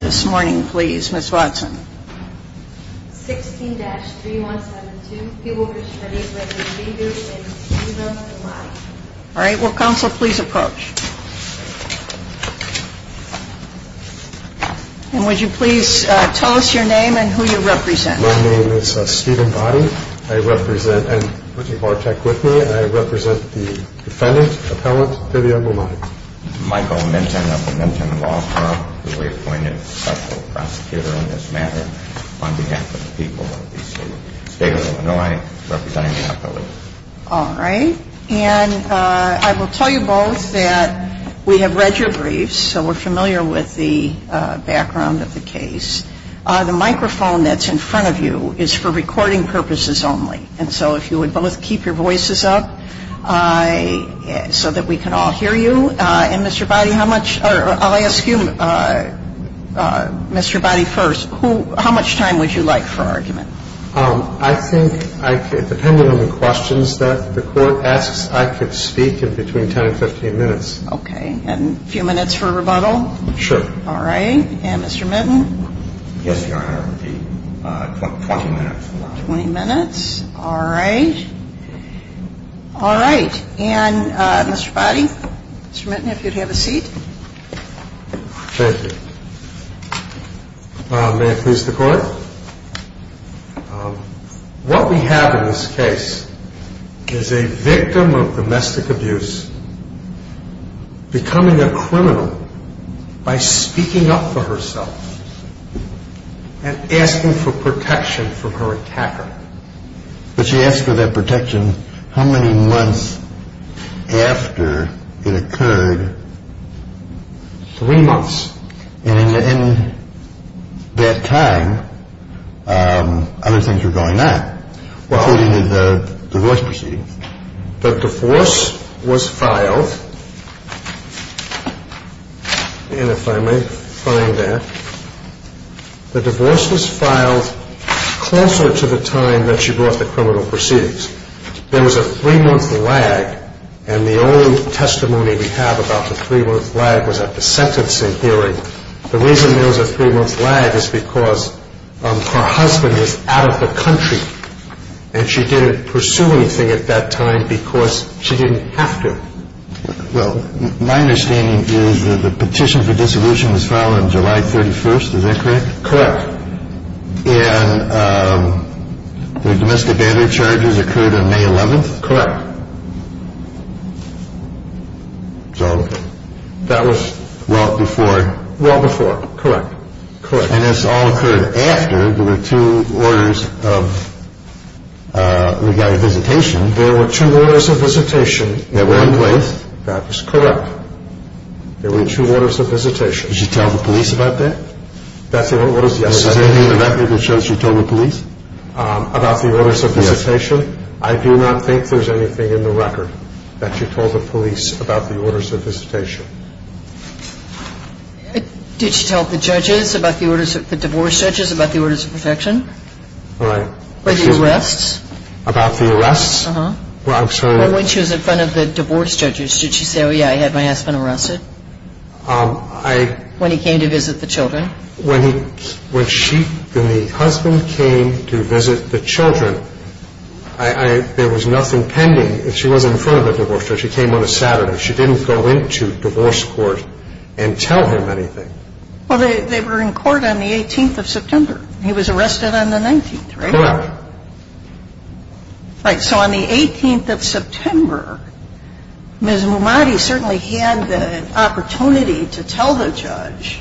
This morning please. Ms. Watson. 16-3172. All right. Will counsel please approach? And would you please tell us your name and who you represent? My name is Stephen Boddy. I represent, I'm Richard Vartek with me, and I represent the defendant, appellant, Vivian Lamont. Michael Minton of the Minton Law Firm. We appointed a special prosecutor in this matter on behalf of the people of the state of Illinois representing the appellate. All right. And I will tell you both that we have read your briefs so we're familiar with the background of the case. The microphone that's in front of you is for recording purposes only. And so if you would both keep your voices up so that we can all hear you. And, Mr. Boddy, how much or I'll ask you, Mr. Boddy, first, who, how much time would you like for argument? I think I could, depending on the questions that the Court asks, I could speak in between 10 and 15 minutes. Okay. And a few minutes for rebuttal? Sure. All right. And Mr. Minton? Yes, Your Honor. I would like a 20 minute rebuttal. 20 minutes. All right. All right. And, Mr. Boddy, Mr. Minton, if you'd have a seat. Thank you. May it please the Court? What we have in this case is a victim of domestic abuse becoming a criminal by speaking up for herself and asking for protection from her attacker. But she asked for that protection how many months after it occurred? Three months. And in that time, other things were going on, including the divorce proceedings. The divorce was filed, and if I may find that, the divorce was filed closer to the time that she brought the criminal proceedings. There was a three-month lag, and the only testimony we have about the three-month lag was at the sentencing hearing. The reason there was a three-month lag is because her husband was out of the country, and she didn't pursue anything at that time because she didn't have to. Well, my understanding is that the petition for dissolution was filed on July 31st. Is that correct? Correct. And the domestic abandonment charges occurred on May 11th? Correct. So that was well before? Well before, correct. And this all occurred after there were two orders of regarded visitation? There were two orders of visitation. That were in place? That is correct. There were two orders of visitation. Did she tell the police about that? That's the only order of visitation. Is there anything in the record that shows she told the police? About the orders of visitation? Yes. I do not think there's anything in the record that she told the police about the orders of visitation. Did she tell the judges, the divorce judges, about the orders of protection? Right. Or the arrests? About the arrests? Uh-huh. Well, I'm sorry. Or when she was in front of the divorce judges, did she say, oh, yeah, I had my husband arrested? When he came to visit the children? When the husband came to visit the children, there was nothing pending. She was in front of the divorce judge. She came on a Saturday. She didn't go into divorce court and tell him anything. Well, they were in court on the 18th of September. He was arrested on the 19th, right? Correct. Right. So on the 18th of September, Ms. Mumadi certainly had the opportunity to tell the judge,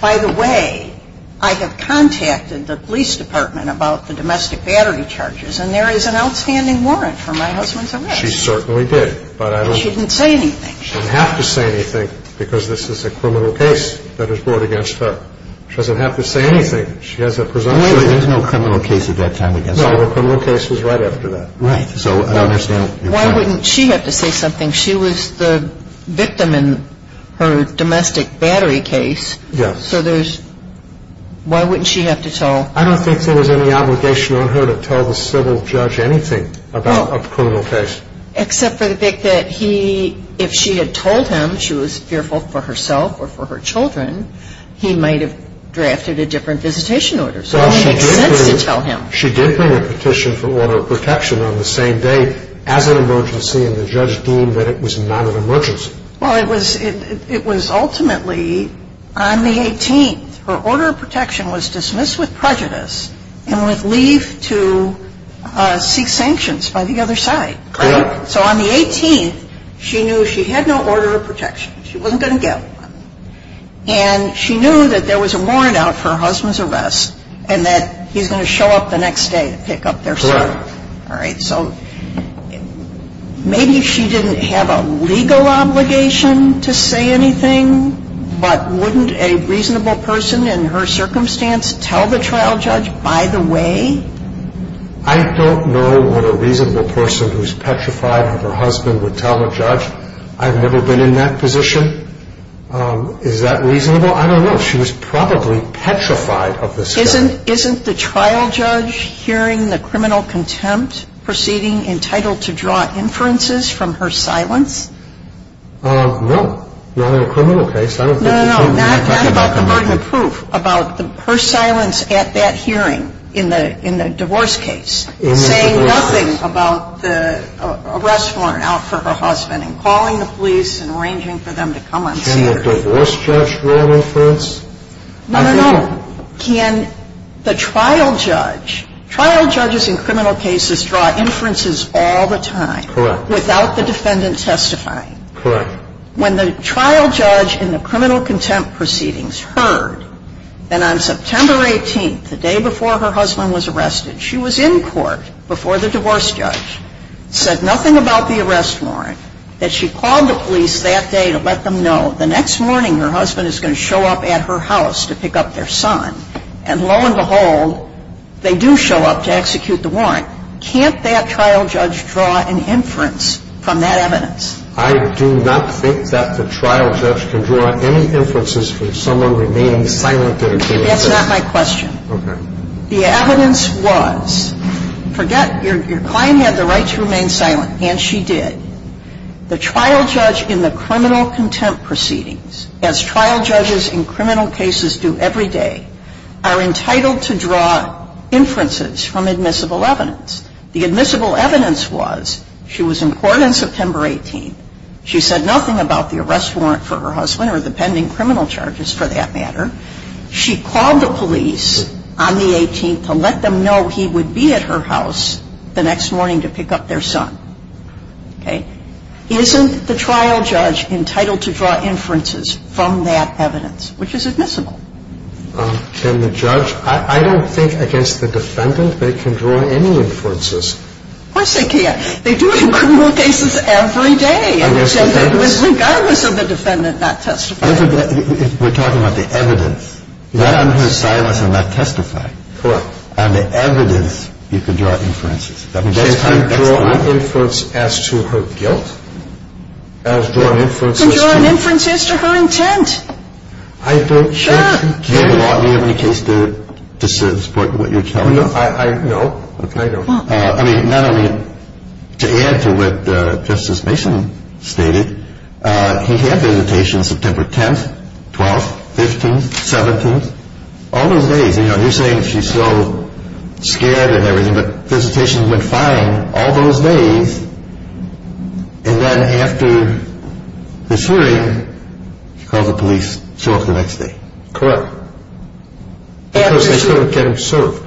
by the way, I have contacted the police department about the domestic battery charges, and there is an outstanding warrant for my husband's arrest. She certainly did. But she didn't say anything. She doesn't have to say anything because this is a criminal case that is brought against her. She doesn't have to say anything. She has a presumption. There was no criminal case at that time against her. No, the criminal case was right after that. Right. So I understand. Why wouldn't she have to say something? She was the victim in her domestic battery case. Yes. So why wouldn't she have to tell? I don't think there was any obligation on her to tell the civil judge anything about a criminal case. Except for the fact that if she had told him she was fearful for herself or for her children, he might have drafted a different visitation order. So it makes sense to tell him. She did bring a petition for order of protection on the same day as an emergency, and the judge deemed that it was not an emergency. Well, it was ultimately on the 18th. Her order of protection was dismissed with prejudice and with leave to seek sanctions by the other side. Correct. So on the 18th, she knew she had no order of protection. She wasn't going to get one. And she knew that there was a warrant out for her husband's arrest and that he's going to show up the next day to pick up their son. Correct. All right. So maybe she didn't have a legal obligation to say anything, but wouldn't a reasonable person in her circumstance tell the trial judge, by the way? I don't know what a reasonable person who's petrified of her husband would tell a judge. I've never been in that position. Is that reasonable? I don't know. She was probably petrified of this guy. Isn't the trial judge hearing the criminal contempt proceeding entitled to draw inferences from her silence? No. Not in a criminal case. No, no, no. Not about the burden of proof. About her silence at that hearing in the divorce case. In the divorce case. Saying nothing about the arrest warrant out for her husband and calling the police and arranging for them to come and see her. Can the divorce judge draw inference? No, no, no. Can the trial judge, trial judges in criminal cases draw inferences all the time. Correct. Without the defendant testifying. Correct. When the trial judge in the criminal contempt proceedings heard that on September 18th, the day before her husband was arrested, she was in court before the divorce judge. Said nothing about the arrest warrant. That she called the police that day to let them know the next morning her husband is going to show up at her house to pick up their son. And lo and behold, they do show up to execute the warrant. Can't that trial judge draw an inference from that evidence? I do not think that the trial judge can draw any inferences from someone remaining silent during a hearing. That's not my question. Okay. The evidence was, forget your client had the right to remain silent, and she did. The trial judge in the criminal contempt proceedings, as trial judges in criminal cases do every day, are entitled to draw inferences from admissible evidence. The admissible evidence was she was in court on September 18th. She said nothing about the arrest warrant for her husband or the pending criminal charges, for that matter. She called the police on the 18th to let them know he would be at her house the next morning to pick up their son. Okay? Isn't the trial judge entitled to draw inferences from that evidence, which is admissible? Can the judge? I don't think against the defendant they can draw any inferences. Of course they can. They do it in criminal cases every day. Regardless of the defendant not testifying. If we're talking about the evidence, not on her silence and not testifying. Correct. On the evidence, you can draw inferences. She can draw inferences as to her guilt? She can draw inferences to her intent. I don't think she can. Do you have any case to support what you're telling us? No, I don't. To add to what Justice Mason stated, he had visitation September 10th, 12th, 15th, 17th, all those days. You're saying she's so scared and everything, but visitation went fine all those days. And then after the hearing, she called the police to show up the next day. Correct. Because they couldn't get him served.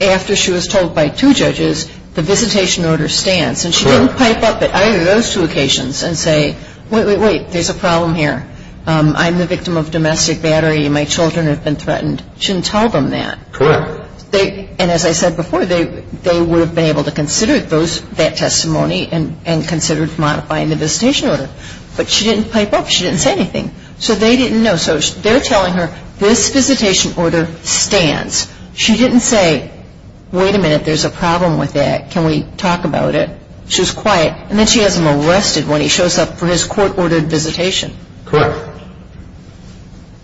So after she was told by two judges the visitation order stands. Correct. And she didn't pipe up at either of those two occasions and say, wait, wait, wait, there's a problem here. I'm the victim of domestic battery and my children have been threatened. She didn't tell them that. Correct. And as I said before, they would have been able to consider that testimony and consider modifying the visitation order. But she didn't pipe up. She didn't say anything. So they didn't know. So they're telling her this visitation order stands. She didn't say, wait a minute, there's a problem with that. Can we talk about it? She was quiet. And then she has him arrested when he shows up for his court-ordered visitation. Correct.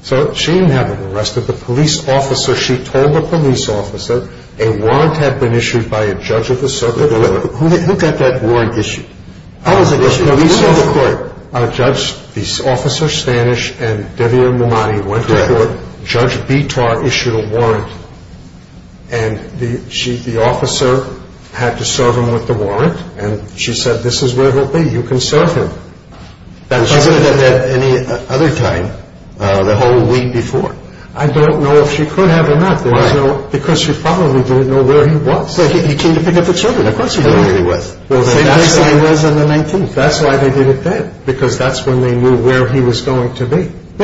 So she didn't have him arrested. The police officer, she told the police officer a warrant had been issued by a judge of the circuit. Who got that warrant issued? The police or the court? The court. The judge, the officer, Stanish and Debbia Mamadi went to court. Judge Bitar issued a warrant. And the officer had to serve him with the warrant. And she said, this is where he'll be. You can serve him. Was she going to have that any other time, the whole week before? I don't know if she could have or not. Why? Because she probably didn't know where he was. He came to pick up the children. Of course he didn't know where he was. That's why he was on the 19th. That's why they did it then. Because that's when they knew where he was going to be. He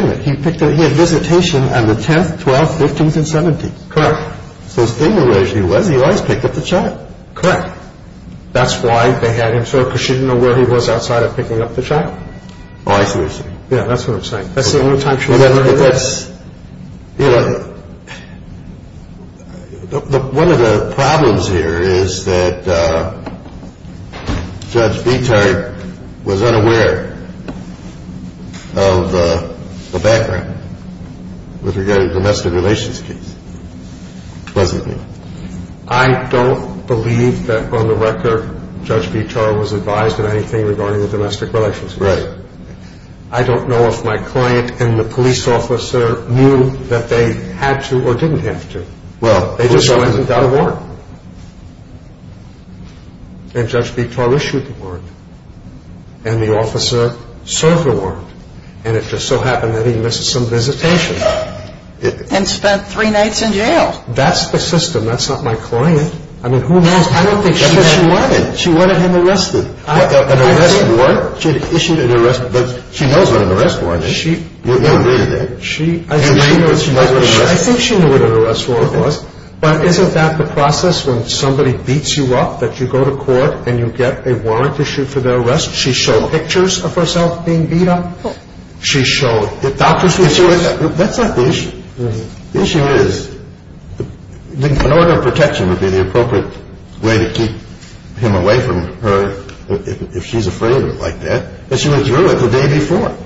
had visitation on the 10th, 12th, 15th, and 17th. Correct. So as famous as he was, he always picked up the child. Correct. That's why they had him served, because she didn't know where he was outside of picking up the child. Oh, I see what you're saying. Yeah, that's what I'm saying. That's the only time she was there. One of the problems here is that Judge Vitar was unaware of the background with regard to the domestic relations case, wasn't he? I don't believe that, on the record, Judge Vitar was advised of anything regarding the domestic relations case. Right. I don't know if my client and the police officer knew that they had to or didn't have to. Well, police officer… They just went and got a warrant. And Judge Vitar issued the warrant. And the officer served the warrant. And it just so happened that he missed some visitation. And spent three nights in jail. That's the system. That's not my client. I mean, who knows? I don't think she wanted him arrested. An arrest warrant? She issued an arrest warrant. She knows what an arrest warrant is. I think she knew what an arrest warrant was. But isn't that the process when somebody beats you up, that you go to court and you get a warrant issued for the arrest? She showed pictures of herself being beat up? She showed doctors' pictures? That's not the issue. The issue is an order of protection would be the appropriate way to keep him away from her if she's afraid of it like that. But she went through it the day before.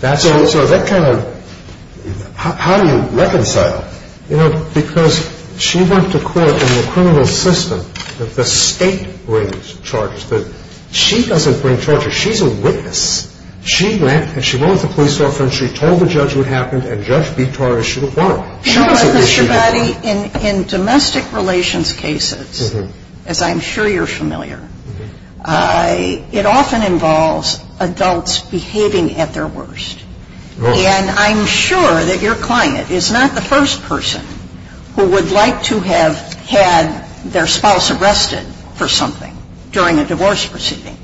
So that kind of… How do you reconcile? You know, because she went to court in the criminal system that the state brings charges. She doesn't bring charges. She's a witness. She went and she went with the police officer and she told the judge what happened and Judge Bitar issued a warrant. She was a witness. Mr. Gotti, in domestic relations cases, as I'm sure you're familiar, it often involves adults behaving at their worst. And I'm sure that your client is not the first person who would like to have had their spouse arrested for something during a divorce proceeding.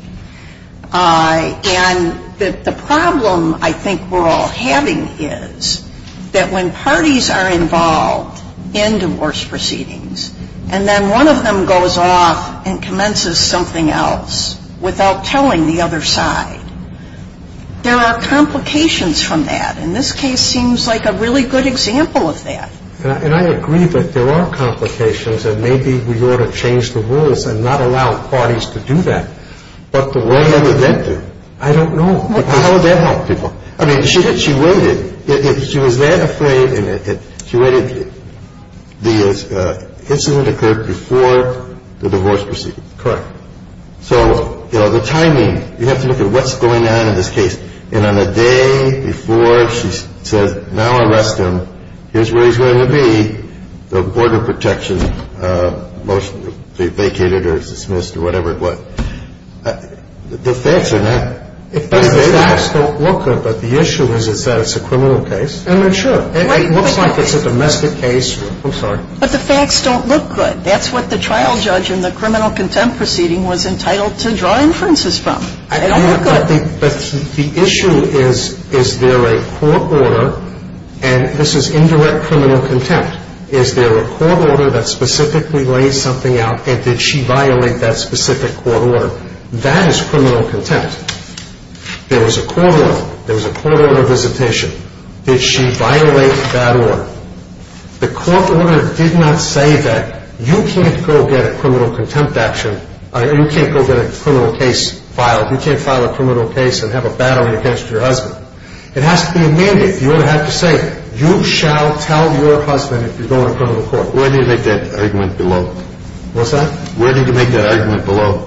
And the problem I think we're all having is that when parties are involved in divorce proceedings and then one of them goes off and commences something else without telling the other side, there are complications from that. And this case seems like a really good example of that. And I agree that there are complications and maybe we ought to change the rules and not allow parties to do that. But where would that go? I don't know. How would that help people? I mean, she waited. She was that afraid and she waited. The incident occurred before the divorce proceeding. Correct. So, you know, the timing, you have to look at what's going on in this case. And on the day before she says, now arrest him, here's where he's going to be, the fact is that the facts don't look good. But the issue is that it's a criminal case. I mean, sure. It looks like it's a domestic case. I'm sorry. But the facts don't look good. That's what the trial judge in the criminal contempt proceeding was entitled to draw inferences from. They don't look good. But the issue is, is there a court order, and this is indirect criminal contempt. Is there a court order that specifically lays something out, and did she violate that specific court order? That is criminal contempt. There was a court order. There was a court order of visitation. Did she violate that order? The court order did not say that you can't go get a criminal contempt action, you can't go get a criminal case filed, you can't file a criminal case and have a battle against your husband. It has to be a mandate. You don't have to say it. You shall tell your husband if you're going to a criminal court. Where did you make that argument below? What's that? Where did you make that argument below?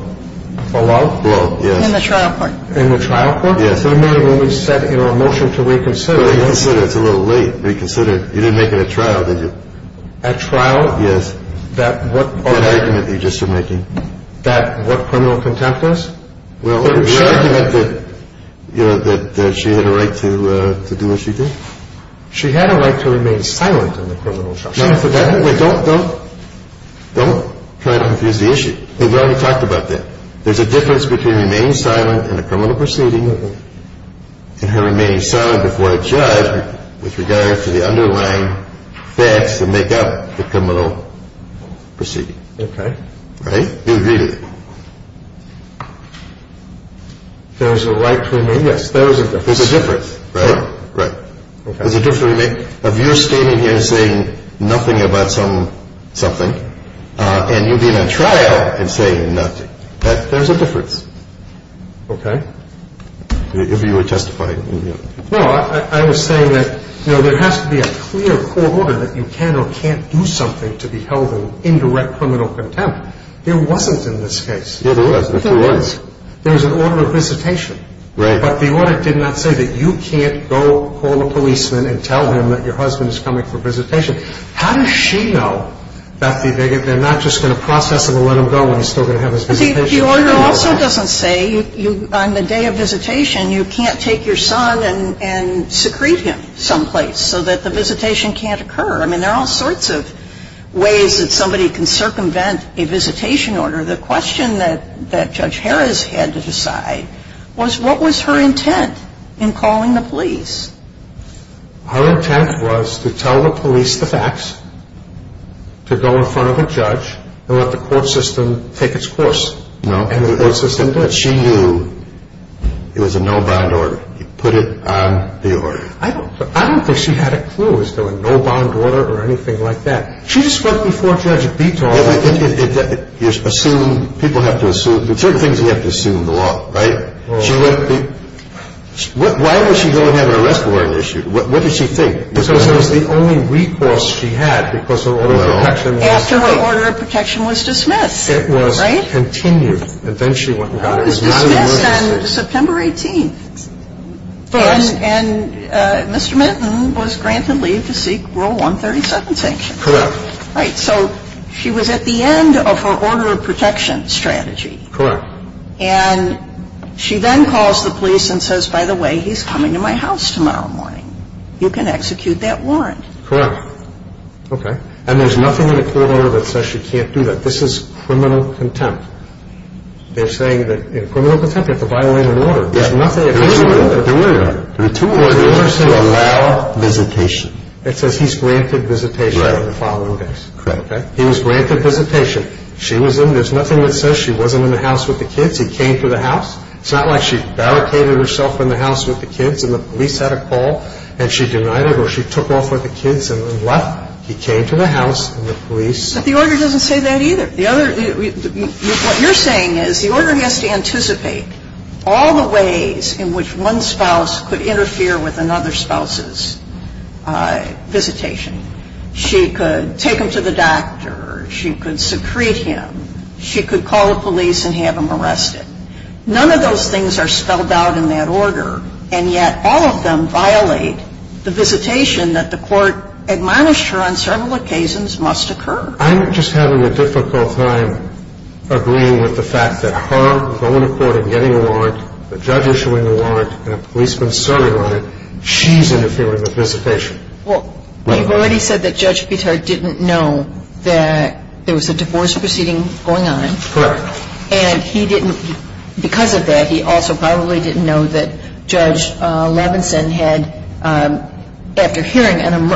Below? Below, yes. In the trial court. In the trial court? Yes. Remember when we said, you know, a motion to reconsider. Reconsider. It's a little late. Reconsider. You didn't make it at trial, did you? At trial? Yes. That what argument? That argument you just are making. That what criminal contempt is? Well, your argument that, you know, that she had a right to do what she did? She had a right to remain silent in the criminal trial. Wait, don't, don't, don't try to confuse the issue. We've already talked about that. There's a difference between remaining silent in a criminal proceeding and her remaining silent before a judge with regard to the underlying facts that make up the criminal proceeding. Okay. Right? You agree to that? There's a right to remain? Yes. There is a difference. There's a difference, right? Right. Okay. There's a difference between you standing here and saying nothing about something, and you being at trial and saying nothing. There's a difference. Okay. If you were testifying. No, I was saying that, you know, there has to be a clear court order that you can or can't do something to be held in direct criminal contempt. There wasn't in this case. Yeah, there was. There was. There was an order of visitation. Right. But the order did not say that you can't go call a policeman and tell him that your husband is coming for visitation. How does she know that they're not just going to process him and let him go and he's still going to have his visitation? The order also doesn't say on the day of visitation you can't take your son and secrete him someplace so that the visitation can't occur. I mean, there are all sorts of ways that somebody can circumvent a visitation order. The question that Judge Harris had to decide was what was her intent in calling the police? Her intent was to tell the police the facts, to go in front of a judge, and let the court system take its course. And the court system did. She knew it was a no-bound order. You put it on the order. I don't think she had a clue as to a no-bound order or anything like that. She just went before Judge Beethoven. Assume. People have to assume. There are certain things you have to assume in the law, right? Why would she go and have an arrest warrant issued? What did she think? Because it was the only recourse she had because her order of protection was dismissed. After her order of protection was dismissed, right? It was continued. And then she went and got it. It was dismissed on September 18th. And Mr. Minton was granted leave to seek Rule 137 sanctions. Correct. Right. So she was at the end of her order of protection strategy. Correct. And she then calls the police and says, by the way, he's coming to my house tomorrow morning. You can execute that warrant. Correct. Okay. And there's nothing in the court order that says she can't do that. This is criminal contempt. They're saying that in criminal contempt you have to violate an order. There's nothing official in the order. There is an order. There are two orders. The order says allow visitation. It says he's granted visitation the following day. Correct. Okay. He was granted visitation. She was in. There's nothing that says she wasn't in the house with the kids. He came to the house. It's not like she barricaded herself in the house with the kids and the police had a call and she denied it or she took off with the kids and left. He came to the house and the police. But the order doesn't say that either. The other, what you're saying is the order has to anticipate all the ways in which one spouse could interfere with another spouse's visitation. She could take him to the doctor. She could secrete him. She could call the police and have him arrested. None of those things are spelled out in that order, and yet all of them violate the visitation that the court admonished her on several occasions must occur. I'm just having a difficult time agreeing with the fact that her going to court and getting a warrant, the judge issuing a warrant, and a policeman serving on it, she's interfering with visitation. Well, you've already said that Judge Petard didn't know that there was a divorce proceeding going on. Correct. And he didn't, because of that, he also probably didn't know that Judge Levinson had, after hearing an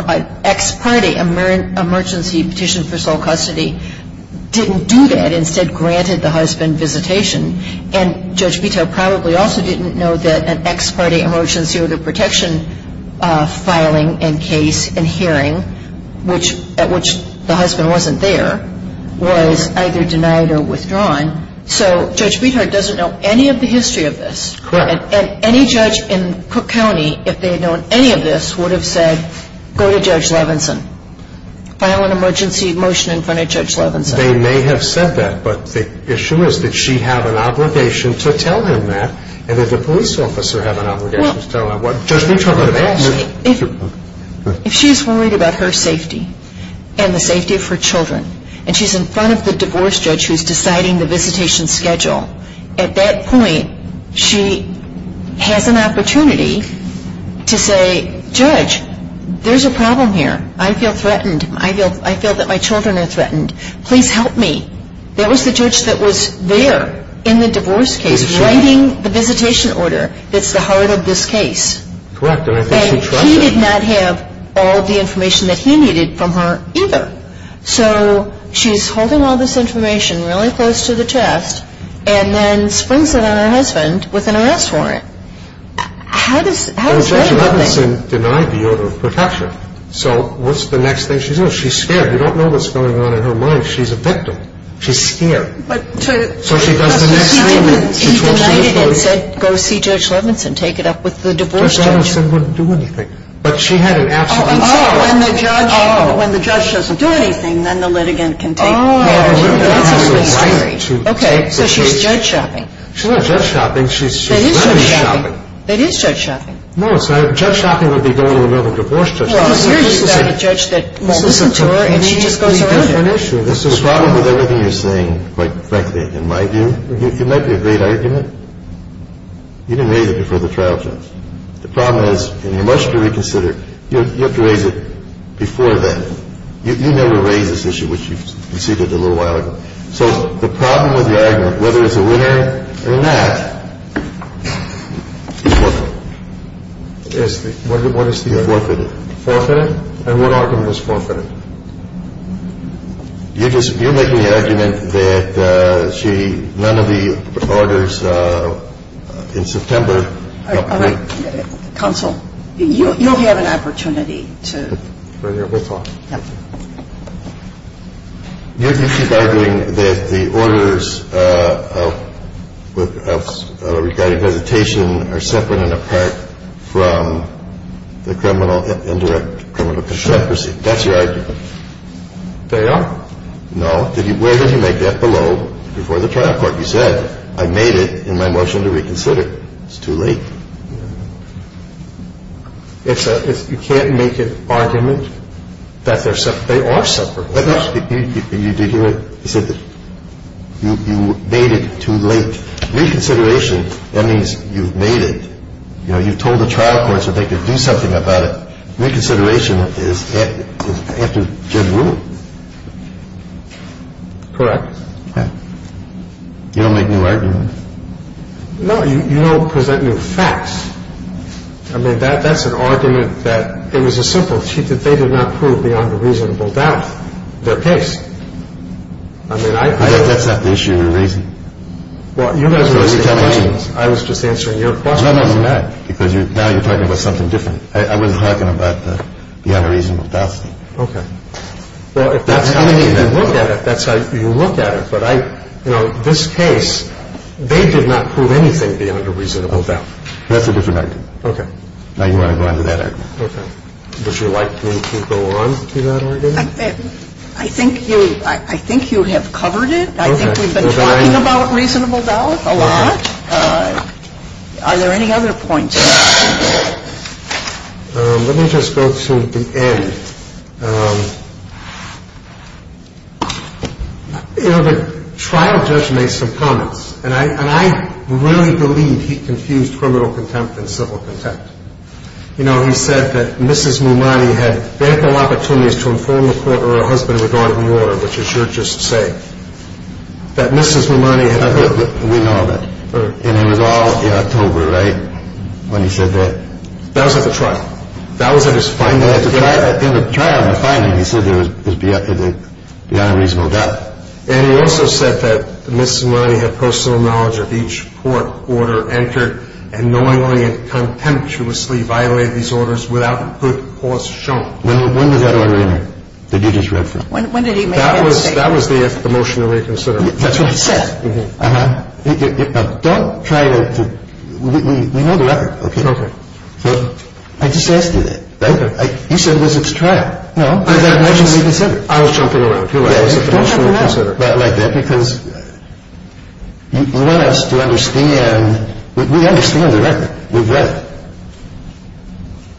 ex parte emergency petition for sole custody, didn't do that, instead granted the husband visitation. And Judge Petard probably also didn't know that an ex parte emergency order of protection filing and case and hearing, which, at which the husband wasn't there, was either denied or withdrawn. So Judge Petard doesn't know any of the history of this. Correct. And any judge in Cook County, if they had known any of this, would have said, go to Judge Levinson. File an emergency motion in front of Judge Levinson. They may have said that, but the issue is that she'd have an obligation to tell him that, and that the police officer have an obligation to tell him. Well, actually, if she's worried about her safety and the safety of her children, and she's in front of the divorce judge who's deciding the visitation schedule, at that point she has an opportunity to say, Judge, there's a problem here. I feel threatened. I feel that my children are threatened. Please help me. That was the judge that was there in the divorce case writing the visitation order that's the heart of this case. Correct. And I think she trusted him. And he did not have all of the information that he needed from her either. So she's holding all this information really close to the chest and then springs it on her husband with an arrest warrant. How does that happen? Judge Levinson denied the order of protection. So what's the next thing she's going to do? She's scared. We don't know what's going on in her mind. She's a victim. She's scared. So she does the next thing. He denied it and said, go see Judge Levinson, take it up with the divorce judge. Judge Levinson wouldn't do anything. But she had an absolute right. Oh. When the judge doesn't do anything, then the litigant can take care of it. Oh. Okay. So she's judge shopping. She's not judge shopping. She's wedding shopping. That is judge shopping. That is judge shopping. No, it's not. Judge shopping would be going to another divorce judge. Well, here you've got a judge that won't listen to her and she just goes around doing it. This is a pretty different issue. The problem with everything you're saying, quite frankly, in my view, it might be a great argument. You didn't raise it before the trial judge. The problem is, and you must reconsider, you have to raise it before then. You never raised this issue, which you conceded a little while ago. So the problem with the argument, whether it's a winner or not, is forfeited. Forfeited. Forfeited? And what argument is forfeited? You're making the argument that she, none of the orders in September. All right. Counsel, you'll have an opportunity to. Right here. We'll talk. Yep. You keep arguing that the orders regarding hesitation are separate and apart from the criminal, indirect criminal constraint. Sure. That's your argument. They are? No. Where did you make that? Below, before the trial court. You said, I made it in my motion to reconsider. It's too late. You can't make an argument that they're separate. They are separate. You said that you made it too late. Reconsideration, that means you've made it. You know, you told the trial court so they could do something about it. Reconsideration is after good rule. Correct. Yeah. You don't make new arguments. No, you don't present new facts. I mean, that's an argument that it was a simple cheat that they did not prove beyond a reasonable doubt their case. I mean, I. That's not the issue you're raising. Well, you guys are raising questions. I was just answering your questions. No, no, you're not. Because now you're talking about something different. I wasn't talking about the beyond a reasonable doubt thing. Okay. Well, if that's how you look at it, that's how you look at it. But I, you know, this case, they did not prove anything beyond a reasonable doubt. That's a different argument. Okay. Now you want to go on to that argument. Okay. Would you like me to go on to that argument? I think you have covered it. I think we've been talking about reasonable doubt a lot. Are there any other points? Let me just go to the end. You know, the trial judge made some comments. And I really believe he confused criminal contempt and civil contempt. You know, he said that Mrs. Mumani had ample opportunities to inform the court or her husband regarding the order, which is your just saying, that Mrs. Mumani had. We know that. And it was all in October, right, when he said that? That was at the trial. That was at his final hearing. In the trial, in the finding, he said there was beyond a reasonable doubt. And he also said that Mrs. Mumani had personal knowledge of each court order entered and knowingly and contemptuously violated these orders without good cause shown. When was that order entered that you just read from? When did he make that mistake? That was the motion to reconsider. That's what he said? Uh-huh. Don't try to, we know the record. Okay. Okay. I just asked you that. Right? You said it was at the trial. It was at the motion to reconsider. I was jumping around, too. It was at the motion to reconsider. Don't jump around like that because you want us to understand, we understand the record. We've read it.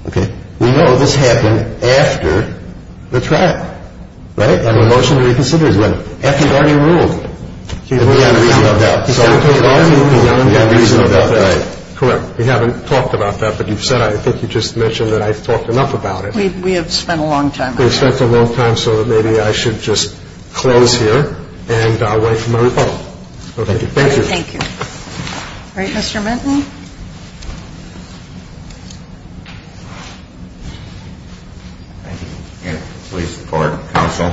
Okay. We know this happened after the trial. Right? And the motion to reconsider is when? After he'd already ruled. Beyond a reasonable doubt. Okay. Beyond a reasonable doubt. Right. Correct. We haven't talked about that, but you've said, I think you just mentioned that I've talked enough about it. We have spent a long time on that. We've spent a long time, so maybe I should just close here and wait for my rebuttal. Okay. Thank you. Thank you. All right. Mr. Minton. Thank you. And please support counsel.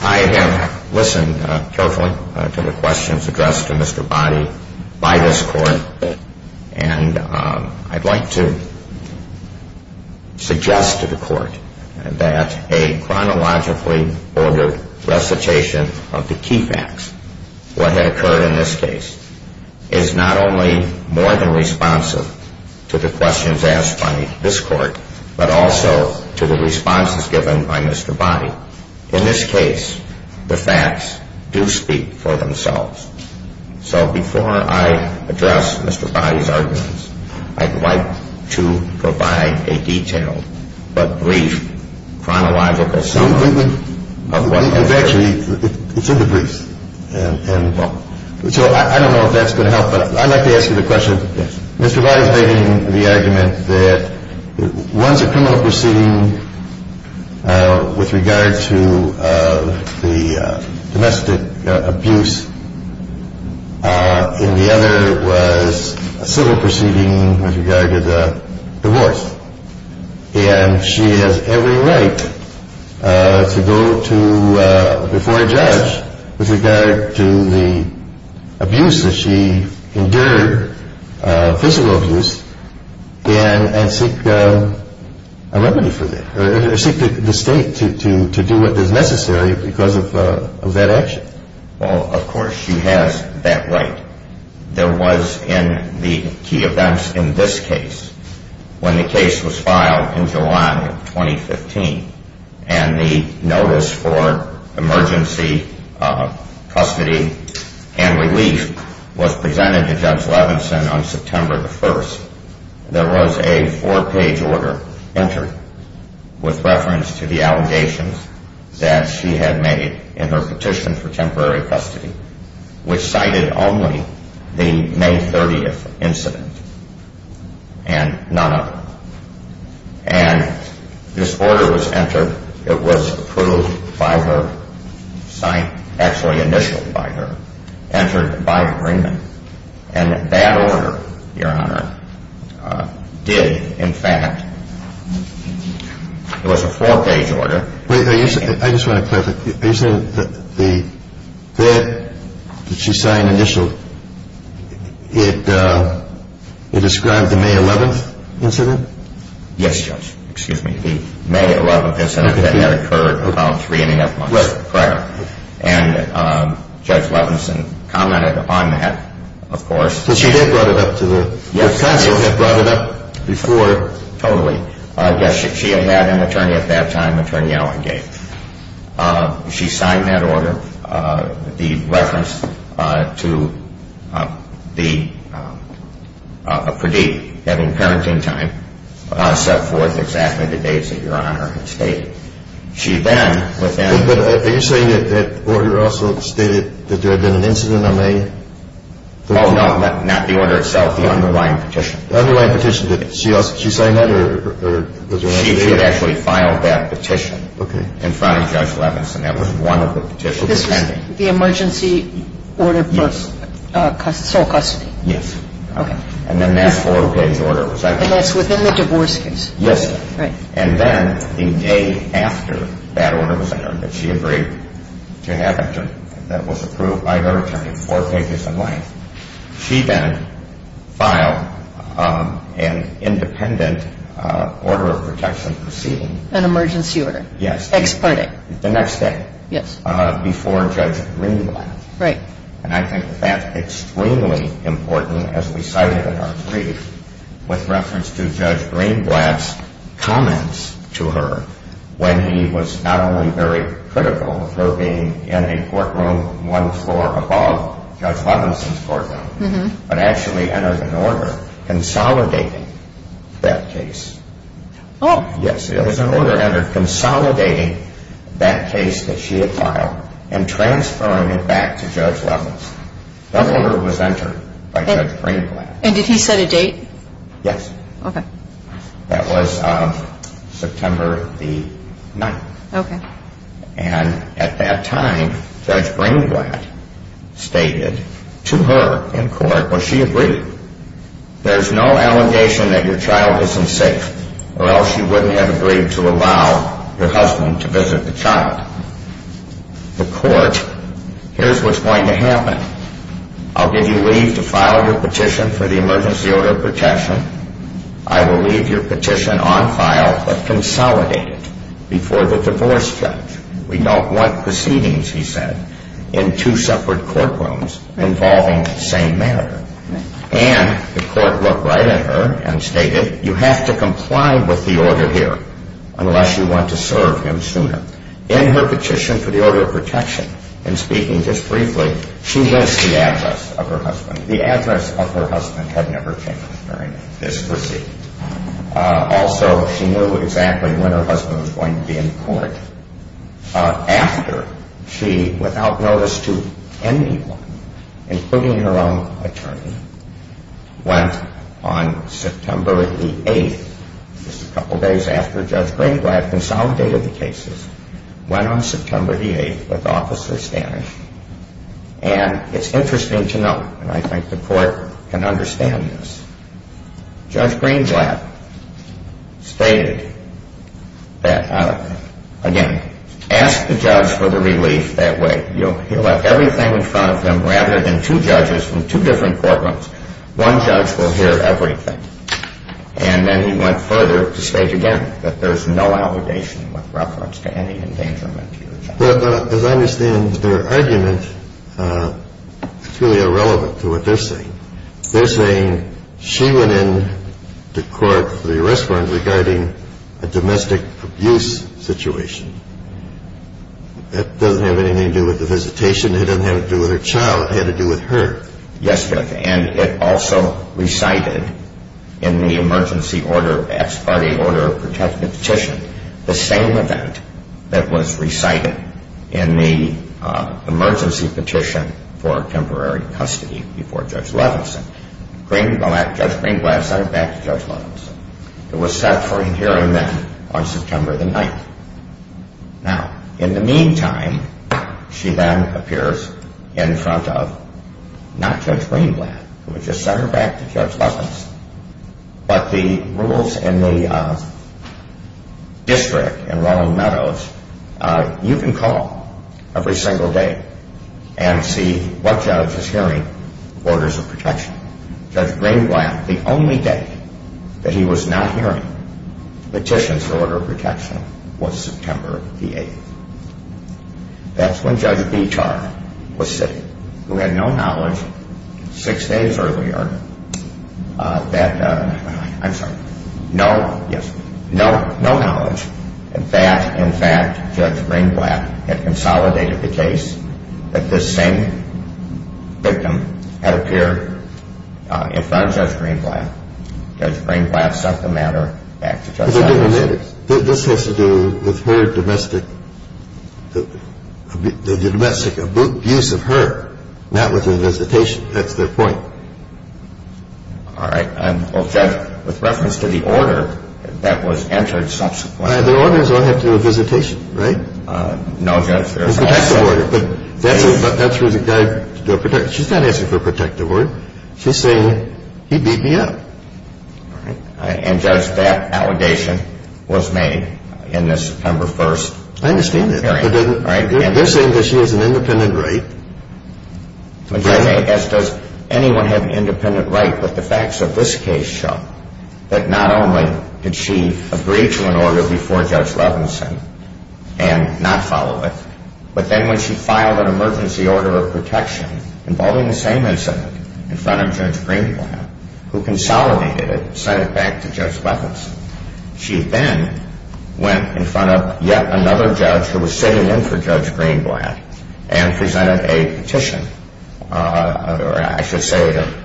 I have listened carefully to the questions addressed to Mr. Bonney by this Court. And I'd like to suggest to the Court that a chronologically ordered recitation of the key facts, what had occurred in this case, is not only more than responsive to the questions asked by this Court, but also to the responses given by Mr. Bonney. In this case, the facts do speak for themselves. So before I address Mr. Bonney's arguments, I'd like to provide a detailed but brief chronological summary of what occurred. Actually, it's in the briefs. So I don't know if that's going to help, but I'd like to ask you the question. Mr. Bonney's making the argument that one's a criminal proceeding with regard to the domestic abuse, and the other was a civil proceeding with regard to the divorce. And she has every right to go to before a judge with regard to the abuse that she endured, physical abuse, and seek a remedy for that, or seek the state to do what is necessary because of that action. Well, of course she has that right. There was in the key events in this case, when the case was filed in July of 2015, and the notice for emergency custody and relief was presented to Judge Levinson on September the 1st, there was a four-page order entered with reference to the allegations that she had made in her petition for temporary custody, which cited only the May 30th incident and none other. And this order was entered. It was approved by her, actually initialed by her, entered by agreement. And that order, Your Honor, did, in fact, it was a four-page order. I just want to clarify. Are you saying that the bed that she signed initialed, it described the May 11th incident? Yes, Judge. Excuse me. The May 11th incident that had occurred about three and a half months prior. And Judge Levinson commented on that, of course. But she did brought it up to the counsel. She had brought it up before. Totally. So, yes, she had had an attorney at that time, Attorney Allen Gates. She signed that order, the reference to the, Pradeep having parenting time, set forth exactly the dates that Your Honor had stated. She then, within- But are you saying that that order also stated that there had been an incident on May- Oh, no, not the order itself, the underlying petition. The underlying petition, did she sign that? She had actually filed that petition in front of Judge Levinson. That was one of the petitions. This was the emergency order for sole custody? Yes. Okay. And then that four-page order was actually- And that's within the divorce case? Yes. Right. And then the day after that order was entered, that she agreed to have it, that was approved by her attorney, four pages in length. She then filed an independent order of protection proceeding. An emergency order. Yes. Ex parte. The next day. Yes. Before Judge Greenblatt. Right. And I think that's extremely important, as we cited in our brief, with reference to Judge Greenblatt's comments to her when he was not only very critical of her being in a courtroom one floor above Judge Levinson's courtroom, but actually entered an order consolidating that case. Oh. Yes, it was an order entered consolidating that case that she had filed and transferring it back to Judge Levinson. That order was entered by Judge Greenblatt. And did he set a date? Yes. Okay. That was September the 9th. Okay. And at that time, Judge Greenblatt stated to her in court, well, she agreed. There's no allegation that your child isn't safe, or else she wouldn't have agreed to allow your husband to visit the child. The court, here's what's going to happen. I'll give you leave to file your petition for the emergency order of protection. I will leave your petition on file but consolidate it before the divorce judge. We don't want proceedings, he said, in two separate courtrooms involving the same matter. And the court looked right at her and stated, you have to comply with the order here unless you want to serve him sooner. In her petition for the order of protection, in speaking just briefly, she missed the address of her husband. This was it. Also, she knew exactly when her husband was going to be in court. After she, without notice to anyone, including her own attorney, went on September the 8th, just a couple days after Judge Greenblatt consolidated the cases, went on September the 8th with Officer Stanich. And it's interesting to note, and I think the court can understand this, Judge Greenblatt stated that, again, ask the judge for the relief that way. You'll have everything in front of them rather than two judges from two different courtrooms. One judge will hear everything. And then he went further to state again that there's no allegation with reference to any endangerment. But as I understand their argument, it's really irrelevant to what they're saying. They're saying she went in to court for the arrest warrant regarding a domestic abuse situation. That doesn't have anything to do with the visitation. It doesn't have to do with her child. It had to do with her. Yes, Judge. And it also recited in the emergency order, as part of the order of protection petition, the same event that was recited in the emergency petition for temporary custody before Judge Levinson. Judge Greenblatt sent her back to Judge Levinson. It was set for a hearing then on September the 9th. Now, in the meantime, she then appears in front of not Judge Greenblatt, who had just sent her back to Judge Levinson. But the rules in the district in Ronald Meadows, you can call every single day and see what judge is hearing orders of protection. Judge Greenblatt, the only day that he was not hearing petitions for order of protection was September the 8th. That's when Judge Beechar was sitting, who had no knowledge six days earlier that, I'm sorry, no knowledge that, in fact, Judge Greenblatt had consolidated the case that this same victim had appeared in front of Judge Greenblatt. Judge Greenblatt sent the matter back to Judge Levinson. The case was made in the September 1st hearing. I understand that. They're saying that she has an independent right. As does anyone have an independent right, but the facts of this case show that not only did she agree to an order before Judge Levinson and not follow it, but then when she filed an emergency order of protection involving the same incident in front of Judge Greenblatt, who consolidated it and sent it back to Judge Levinson, she then went in front of yet another judge who was sitting in for Judge Greenblatt and presented a petition, or I should say a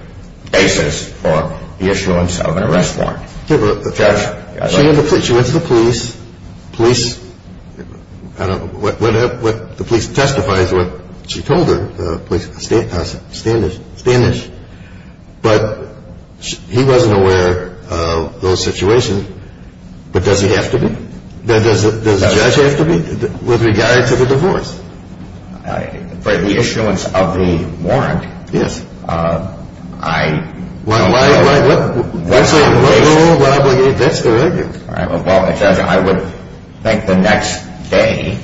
basis for the issuance of an arrest warrant. She went to the police. I don't know. The police testifies what she told her. The police standish. But he wasn't aware of those situations. But does he have to be? Does the judge have to be with regard to the divorce? For the issuance of the warrant, I don't know. That's the regulation. No, that's the regulation. I would think the next day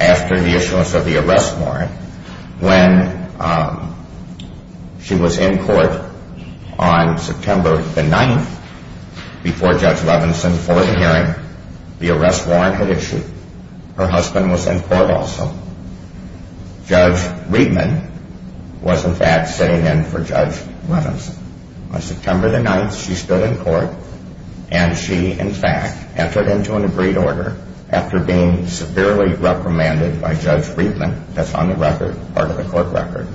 after the issuance of the arrest warrant, when she was in court on September the 9th before Judge Levinson for the hearing, the arrest warrant had issued. Her husband was in court also. Judge Reedman was in fact sitting in for Judge Levinson. On September the 9th, she stood in court, and she in fact entered into an agreed order after being severely reprimanded by Judge Reedman. That's on the record, part of the court record.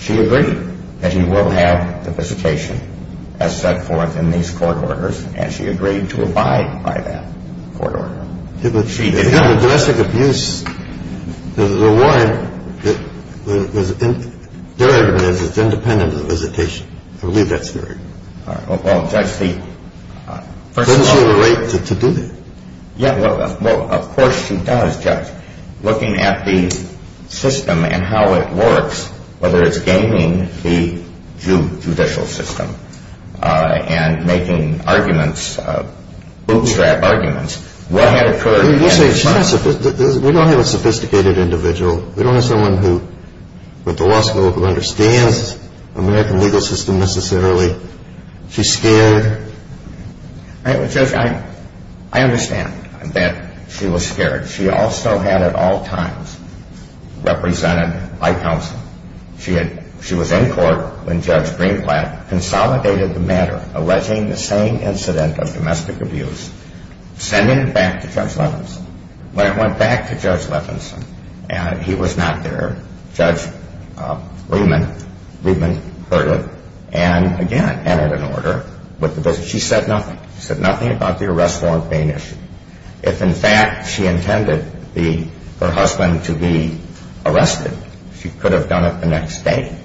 She agreed that he will have the visitation as set forth in these court orders, and she agreed to abide by that court order. She did not. If you have a domestic abuse, there's a warrant. Their argument is it's independent of the visitation. I believe that's their argument. Well, Judge, the first of all— Doesn't she have a right to do that? Yeah, well, of course she does, Judge. Looking at the system and how it works, whether it's gaining the judicial system and making arguments, bootstrap arguments, what had occurred— We don't have a sophisticated individual. We don't have someone with the law school who understands American legal system necessarily. She's scared. Judge, I understand that she was scared. She also had at all times represented by counsel. She was in court when Judge Greenblatt consolidated the matter alleging the same incident of domestic abuse, sending it back to Judge Levinson. When it went back to Judge Levinson and he was not there, Judge Reedman heard it and, again, entered an order. She said nothing. She said nothing about the arrest warrant being issued. If in fact she intended her husband to be arrested, she could have done it the next day.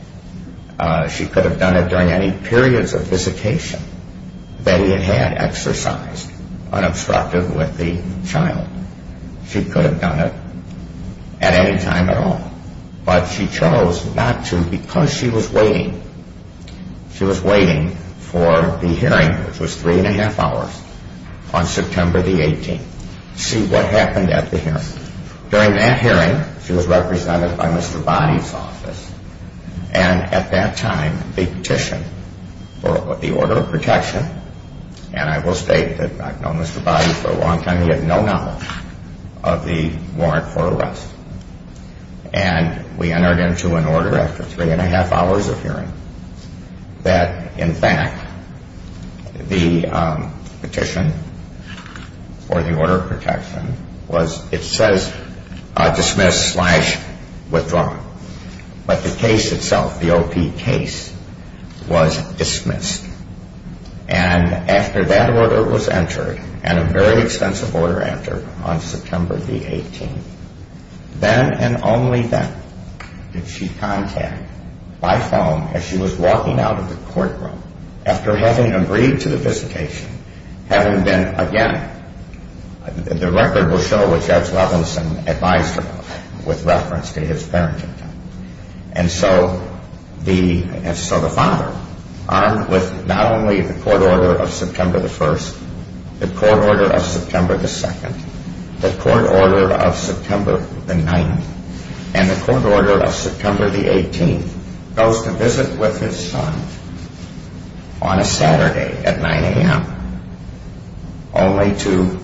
She could have done it during any periods of visitation that he had exercised unobstructed with the child. She could have done it at any time at all. But she chose not to because she was waiting. She was waiting for the hearing, which was three and a half hours, on September the 18th to see what happened at the hearing. During that hearing, she was represented by Mr. Boddy's office and at that time they petitioned for the order of protection. And I will state that I've known Mr. Boddy for a long time. He had no knowledge of the warrant for arrest. And we entered into an order after three and a half hours of hearing that, in fact, the petition for the order of protection was, it says, dismissed slash withdrawn. But the case itself, the OP case, was dismissed. And after that order was entered, and a very extensive order entered on September the 18th, then and only then did she contact my phone as she was walking out of the courtroom after having agreed to the visitation, having been, again, the record will show what Judge Levinson advised her of with reference to his parenting. And so the father, armed with not only the court order of September the 1st, the court order of September the 2nd, the court order of September the 9th, and the court order of September the 18th, goes to visit with his son on a Saturday at 9 a.m. only to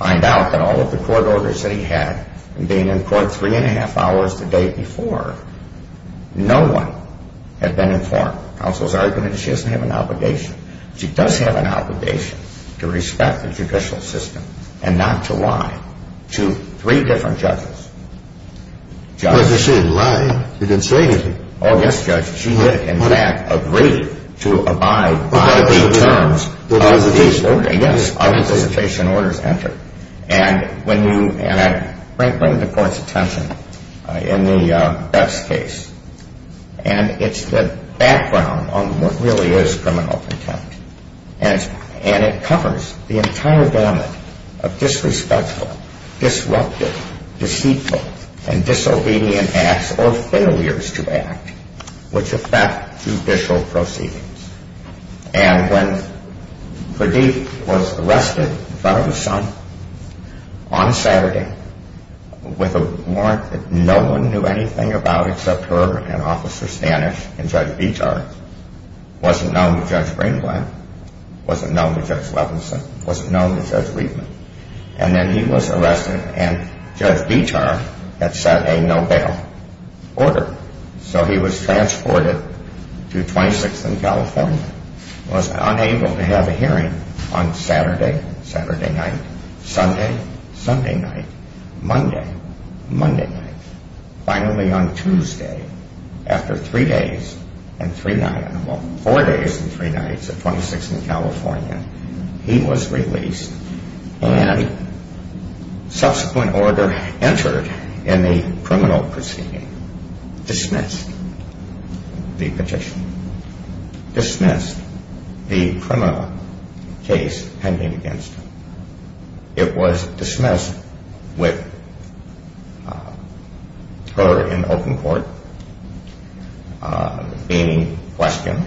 find out that all of the court orders that he had and being in court three and a half hours the day before, no one had been informed. Counsel's argument is she doesn't have an obligation. She does have an obligation to respect the judicial system and not to lie to three different judges. Judge. But she didn't lie. She didn't say anything. Oh, yes, Judge. She did, in fact, agree to abide by the terms of the visitation orders entered. And when you bring the court's attention in the Beth's case, and it's the background on what really is criminal contempt, and it covers the entire gamut of disrespectful, disruptive, deceitful, and disobedient acts or failures to act which affect judicial proceedings. And when Pradeep was arrested in front of his son on Saturday with a warrant that no one knew anything about except her and Officer Stanis and Judge Bitar, wasn't known to Judge Ringblatt, wasn't known to Judge Levenson, wasn't known to Judge Reitman. And then he was arrested, and Judge Bitar had sent a no-bail order. So he was transported to 26th and California, was unable to have a hearing on Saturday, Saturday night, Sunday, Sunday night, Monday, Monday night. Finally, on Tuesday, after three days and three nights, well, four days and three nights at 26th and California, he was released, and subsequent order entered in the criminal proceeding, dismissed the petition, dismissed the criminal case pending against him. It was dismissed with her in open court, being questioned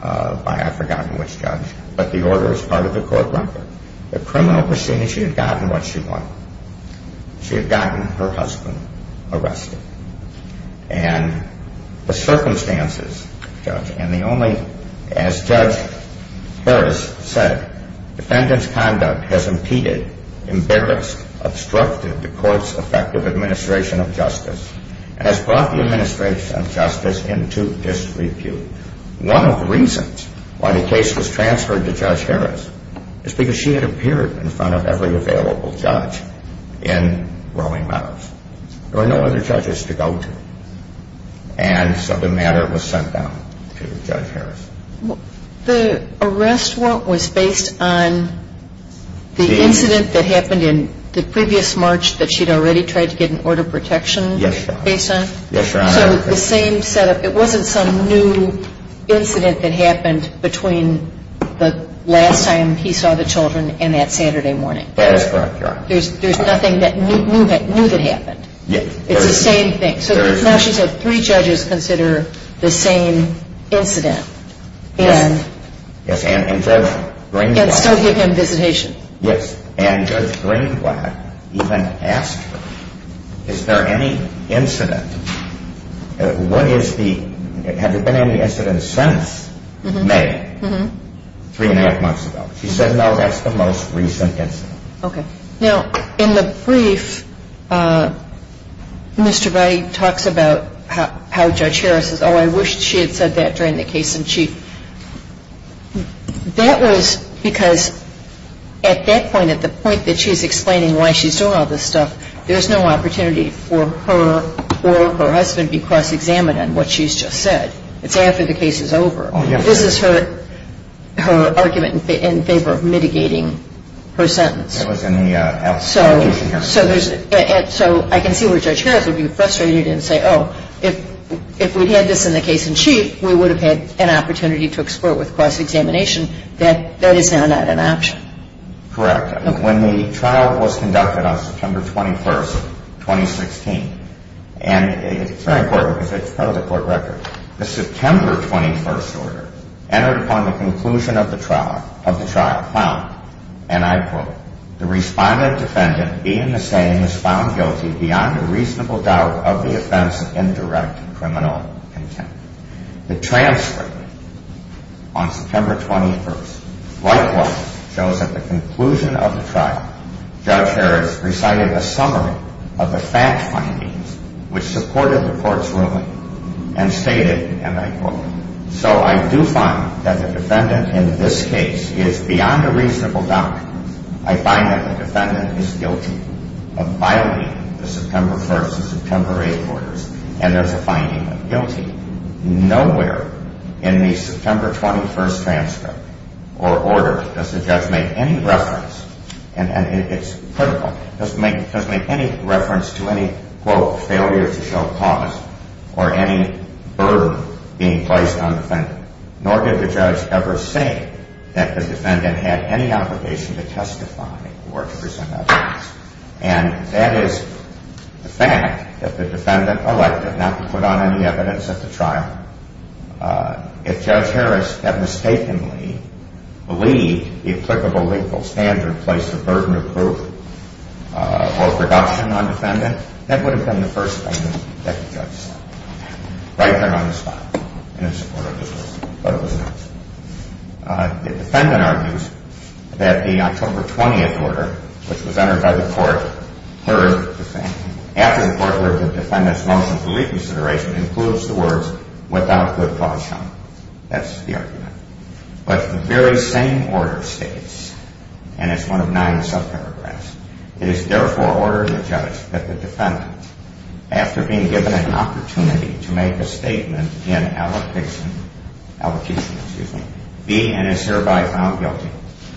by I've forgotten which judge, but the order is part of the court record. The criminal proceeding, she had gotten what she wanted. She had gotten her husband arrested. And the circumstances, Judge, and the only, as Judge Harris said, defendant's conduct has impeded, embarrassed, obstructed the court's effective administration of justice and has brought the administration of justice into disrepute. One of the reasons why the case was transferred to Judge Harris is because she had appeared in front of every available judge in Rowing Meadows. There were no other judges to go to. And so the matter was sent down to Judge Harris. The arrest, what, was based on the incident that happened in the previous march that she'd already tried to get an order of protection based on? Yes, Your Honor. So the same set up, it wasn't some new incident that happened between the last time he saw the children and that Saturday morning. That's correct, Your Honor. There's nothing new that happened. Yes. It's the same thing. So now she said three judges consider the same incident. Yes, and Judge Greenblatt. And still give him visitation. Yes, and Judge Greenblatt even asked her, is there any incident, what is the, have there been any incidents since May, three and a half months ago? She said, no, that's the most recent incident. Okay. Now, in the brief, Mr. Brady talks about how Judge Harris says, oh, I wish she had said that during the case in chief. That was because at that point, at the point that she's explaining why she's doing all this stuff, there's no opportunity for her or her husband to be cross-examined on what she's just said. It's after the case is over. Oh, yes. This is her argument in favor of mitigating her sentence. It was in the application hearing. So I can see where Judge Harris would be frustrated and say, oh, if we had this in the case in chief, we would have had an opportunity to explore it with cross-examination. That is now not an option. Correct. When the trial was conducted on September 21, 2016, and it's very important because it's part of the court record, the September 21st order entered upon the conclusion of the trial found, and I quote, the respondent defendant being the same as found guilty beyond a reasonable doubt of the offense in direct criminal contempt. The transcript on September 21st, likewise shows that the conclusion of the trial, Judge Harris recited a summary of the fact findings, which supported the court's ruling and stated, and I quote, so I do find that the defendant in this case is beyond a reasonable doubt. I find that the defendant is guilty of violating the September 1st and September 8th orders, and there's a finding of guilty. Nowhere in the September 21st transcript or order does the judge make any reference, and it's critical, does make any reference to any, quote, failure to show cause or any burden being placed on the defendant, nor did the judge ever say that the defendant had any obligation to testify or to present evidence, and that is the fact that the defendant elected not to put on any evidence at the trial. If Judge Harris had mistakenly believed the applicable legal standard and placed the burden of proof or production on the defendant, that would have been the first thing that the judge said, right there on the spot in support of his ruling, but it was not. The defendant argues that the October 20th order, which was entered by the court, heard the same. After the court heard the defendant's motion for reconsideration, it includes the words, without good cause shown. That's the argument. But the very same order states, and it's one of nine subparagraphs, it is therefore ordered the judge that the defendant, after being given an opportunity to make a statement in allocation, be and is thereby found guilty,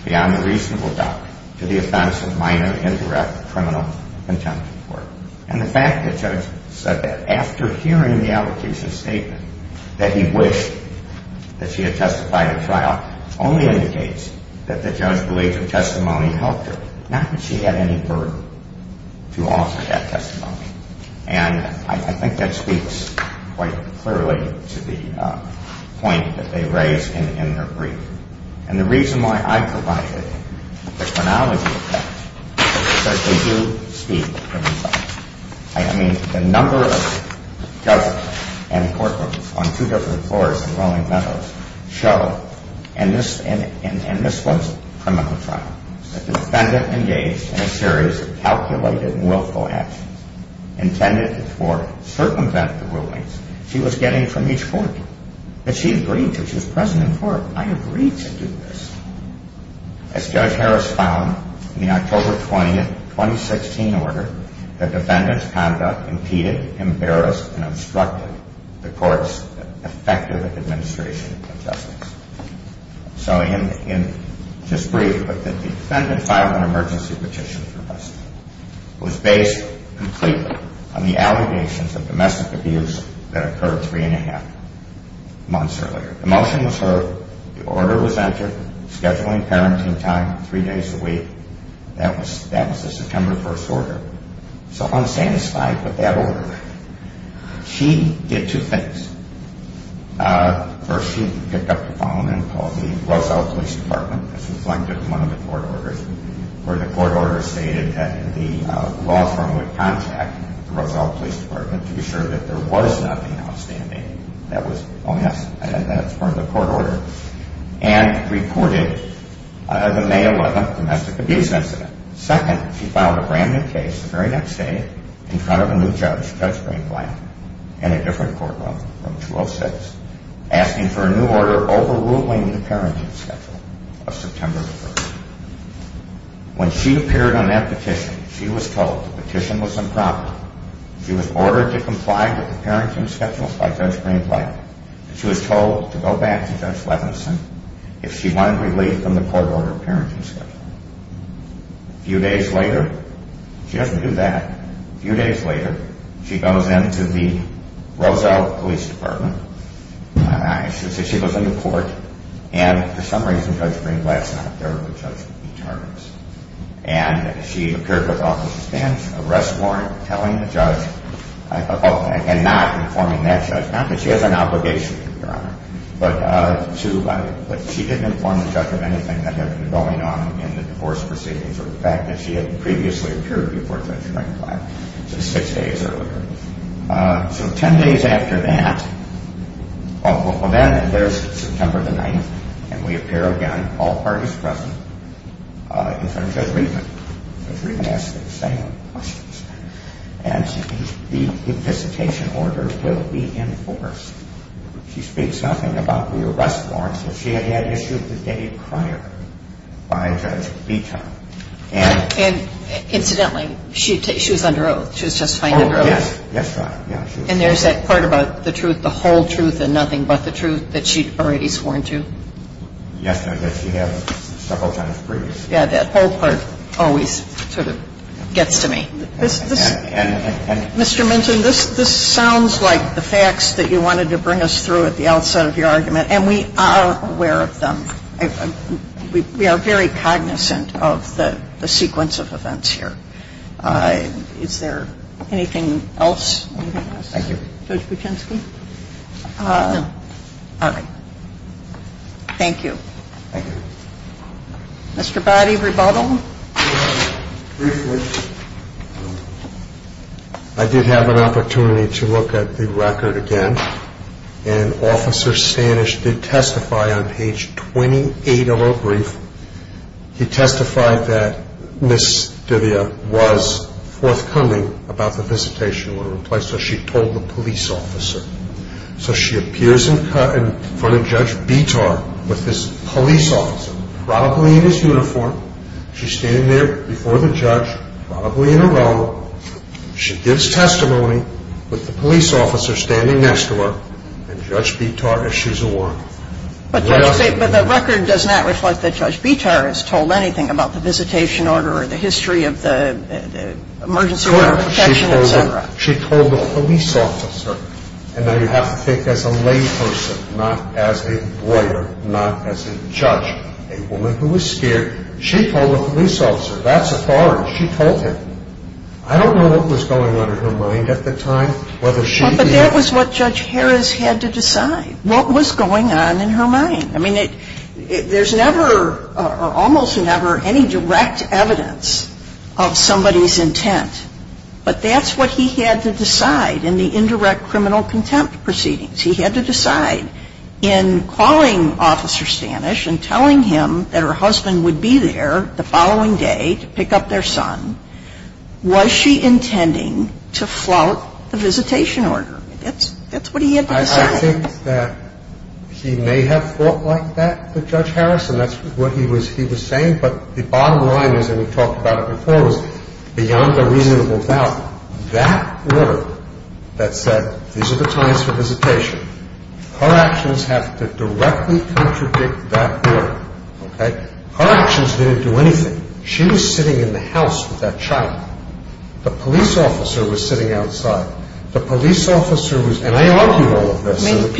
beyond a reasonable doubt, to the offense of minor indirect criminal contempt. And the fact the judge said that after hearing the allocation statement, that he wished that she had testified at trial, only indicates that the judge believed the testimony helped her, not that she had any burden to offer that testimony. And I think that speaks quite clearly to the point that they raise in their brief. And the reason why I provided the chronology of facts is because they do speak to me. I mean, the number of judges and courtrooms on two different floors in Rolling Meadows show, and this was a criminal trial. The defendant engaged in a series of calculated and willful actions intended to circumvent the rulings she was getting from each court. But she agreed to it. She was present in court. I agreed to do this. As Judge Harris found in the October 20, 2016 order, the defendant's conduct impeded, embarrassed, and obstructed the court's effective administration of justice. So in this brief, the defendant filed an emergency petition for rest. It was based completely on the allegations of domestic abuse that occurred three and a half months earlier. The motion was heard. The order was entered. Scheduling parenting time three days a week. That was the September 1st order. So unsatisfied with that order, she did two things. First, she picked up the phone and called the Roselle Police Department. This was linked to one of the court orders where the court order stated that the law firm would contact the Roselle Police Department to be sure that there was nothing outstanding. Oh, yes, that's part of the court order. And reported the May 11th domestic abuse incident. Second, she filed a brand-new case the very next day in front of a new judge, Judge Greenblatt, in a different courtroom, Room 206, asking for a new order overruling the parenting schedule of September 1st. When she appeared on that petition, she was told the petition was improper. She was ordered to comply with the parenting schedule by Judge Greenblatt. She was told to go back to Judge Levenson if she wanted relief from the court order parenting schedule. A few days later, she doesn't do that. A few days later, she goes into the Roselle Police Department. She goes into court, and for some reason, Judge Greenblatt's not there with Judge E. Tardis. And she appeared before the office of defense, arrest warrant, telling the judge about that and not informing that judge. Not that she has an obligation, Your Honor, but she didn't inform the judge of anything that had been going on in the divorce proceedings or the fact that she had previously appeared before Judge Greenblatt just six days earlier. So ten days after that, well, then there's September the 9th, and we appear again, all parties present, in front of Judge Riedman. Judge Riedman asks the same questions. And the implicitation order will be enforced. She speaks nothing about the arrest warrants that she had issued the day prior by Judge Vito. And, incidentally, she was under oath. She was just finally under oath. Oh, yes. Yes, Your Honor. And there's that part about the truth, the whole truth, and nothing but the truth that she'd already sworn to? Yes, Your Honor, that she had several times previously. Yeah, that whole part always sort of gets to me. Mr. Minton, this sounds like the facts that you wanted to bring us through at the outset of your argument, and we are aware of them. We are very cognizant of the sequence of events here. Is there anything else? Thank you. Judge Buczynski? No. All right. Thank you. Thank you. Mr. Boddy, rebuttal? Briefly. I did have an opportunity to look at the record again, and Officer Stanisch did testify on page 28 of our brief. He testified that Ms. Divia was forthcoming about the visitation order in place, so she told the police officer. So she appears in front of Judge Vito with this police officer, probably in his uniform. She's standing there before the judge, probably in a row. She gives testimony with the police officer standing next to her, and Judge Vito issues a warrant. But the record does not reflect that Judge Vito has told anything about the visitation order or the history of the emergency order protection, et cetera. She told the police officer, and now you have to think as a lay person, not as a lawyer, not as a judge, a woman who was scared. She told the police officer, that's a foreign. She told him. I don't know what was going on in her mind at the time, whether she or he. But that was what Judge Harris had to decide, what was going on in her mind. I mean, there's never or almost never any direct evidence of somebody's intent, but that's what he had to decide in the indirect criminal contempt proceedings. He had to decide in calling Officer Stanich and telling him that her husband would be there the following day to pick up their son, was she intending to flout the visitation order? That's what he had to decide. I think that he may have thought like that with Judge Harris, and that's what he was saying. But the bottom line is, and we've talked about it before, is beyond a reasonable doubt, that order that said these are the times for visitation, her actions have to directly contradict that order. Okay? Her actions didn't do anything. She was sitting in the house with that child. The police officer was sitting outside. The police officer was, and I argue all of this. I mean,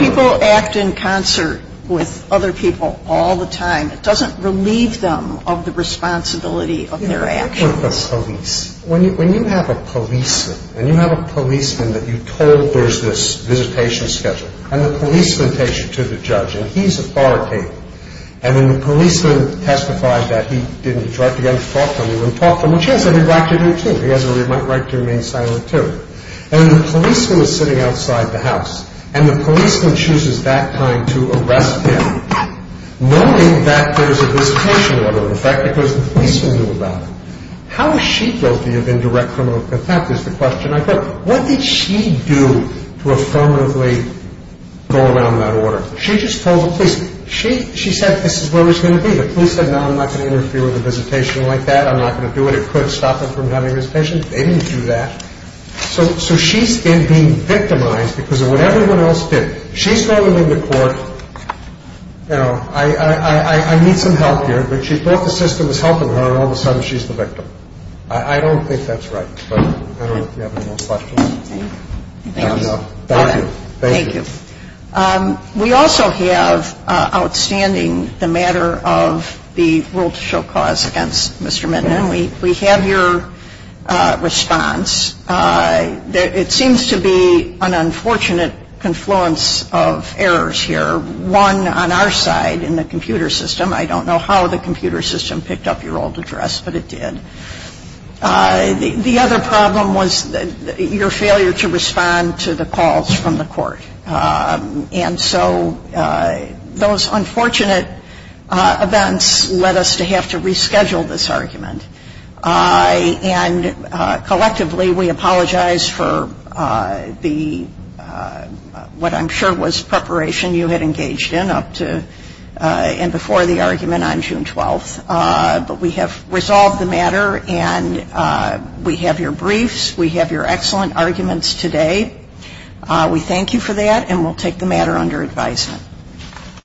people act in concert with other people all the time. It doesn't relieve them of the responsibility of their actions. When you have a policeman, and you have a policeman that you told there's this visitation schedule, and the policeman takes you to the judge, and he's authoritative, and when the policeman testified that he didn't, he tried to get him to talk to him. He wouldn't talk to him, which he has every right to do, too. He has every right to remain silent, too. And the policeman is sitting outside the house, and the policeman chooses that time to arrest him, knowing that there's a visitation order in effect, because the policeman knew about it. How is she guilty of indirect criminal contempt is the question I put. What did she do to affirmatively go around that order? She just told the policeman. She said this is where he's going to be. The police said, no, I'm not going to interfere with a visitation like that. I'm not going to do it. It could stop him from having a visitation. They didn't do that. So she's then being victimized because of what everyone else did. She's going to leave the court. You know, I need some help here. But she thought the system was helping her, and all of a sudden she's the victim. I don't think that's right. But I don't know if you have any more questions. No, no. Thank you. Thank you. We also have outstanding the matter of the rule to show cause against Mr. Minton. We have your response. It seems to be an unfortunate confluence of errors here. One on our side in the computer system. I don't know how the computer system picked up your old address, but it did. The other problem was your failure to respond to the calls from the court. And so those unfortunate events led us to have to reschedule this argument. And collectively, we apologize for what I'm sure was preparation you had engaged in up to and before the argument on June 12th. But we have resolved the matter, and we have your briefs. We have your excellent arguments today. We thank you for that, and we'll take the matter under advisement. Thank you.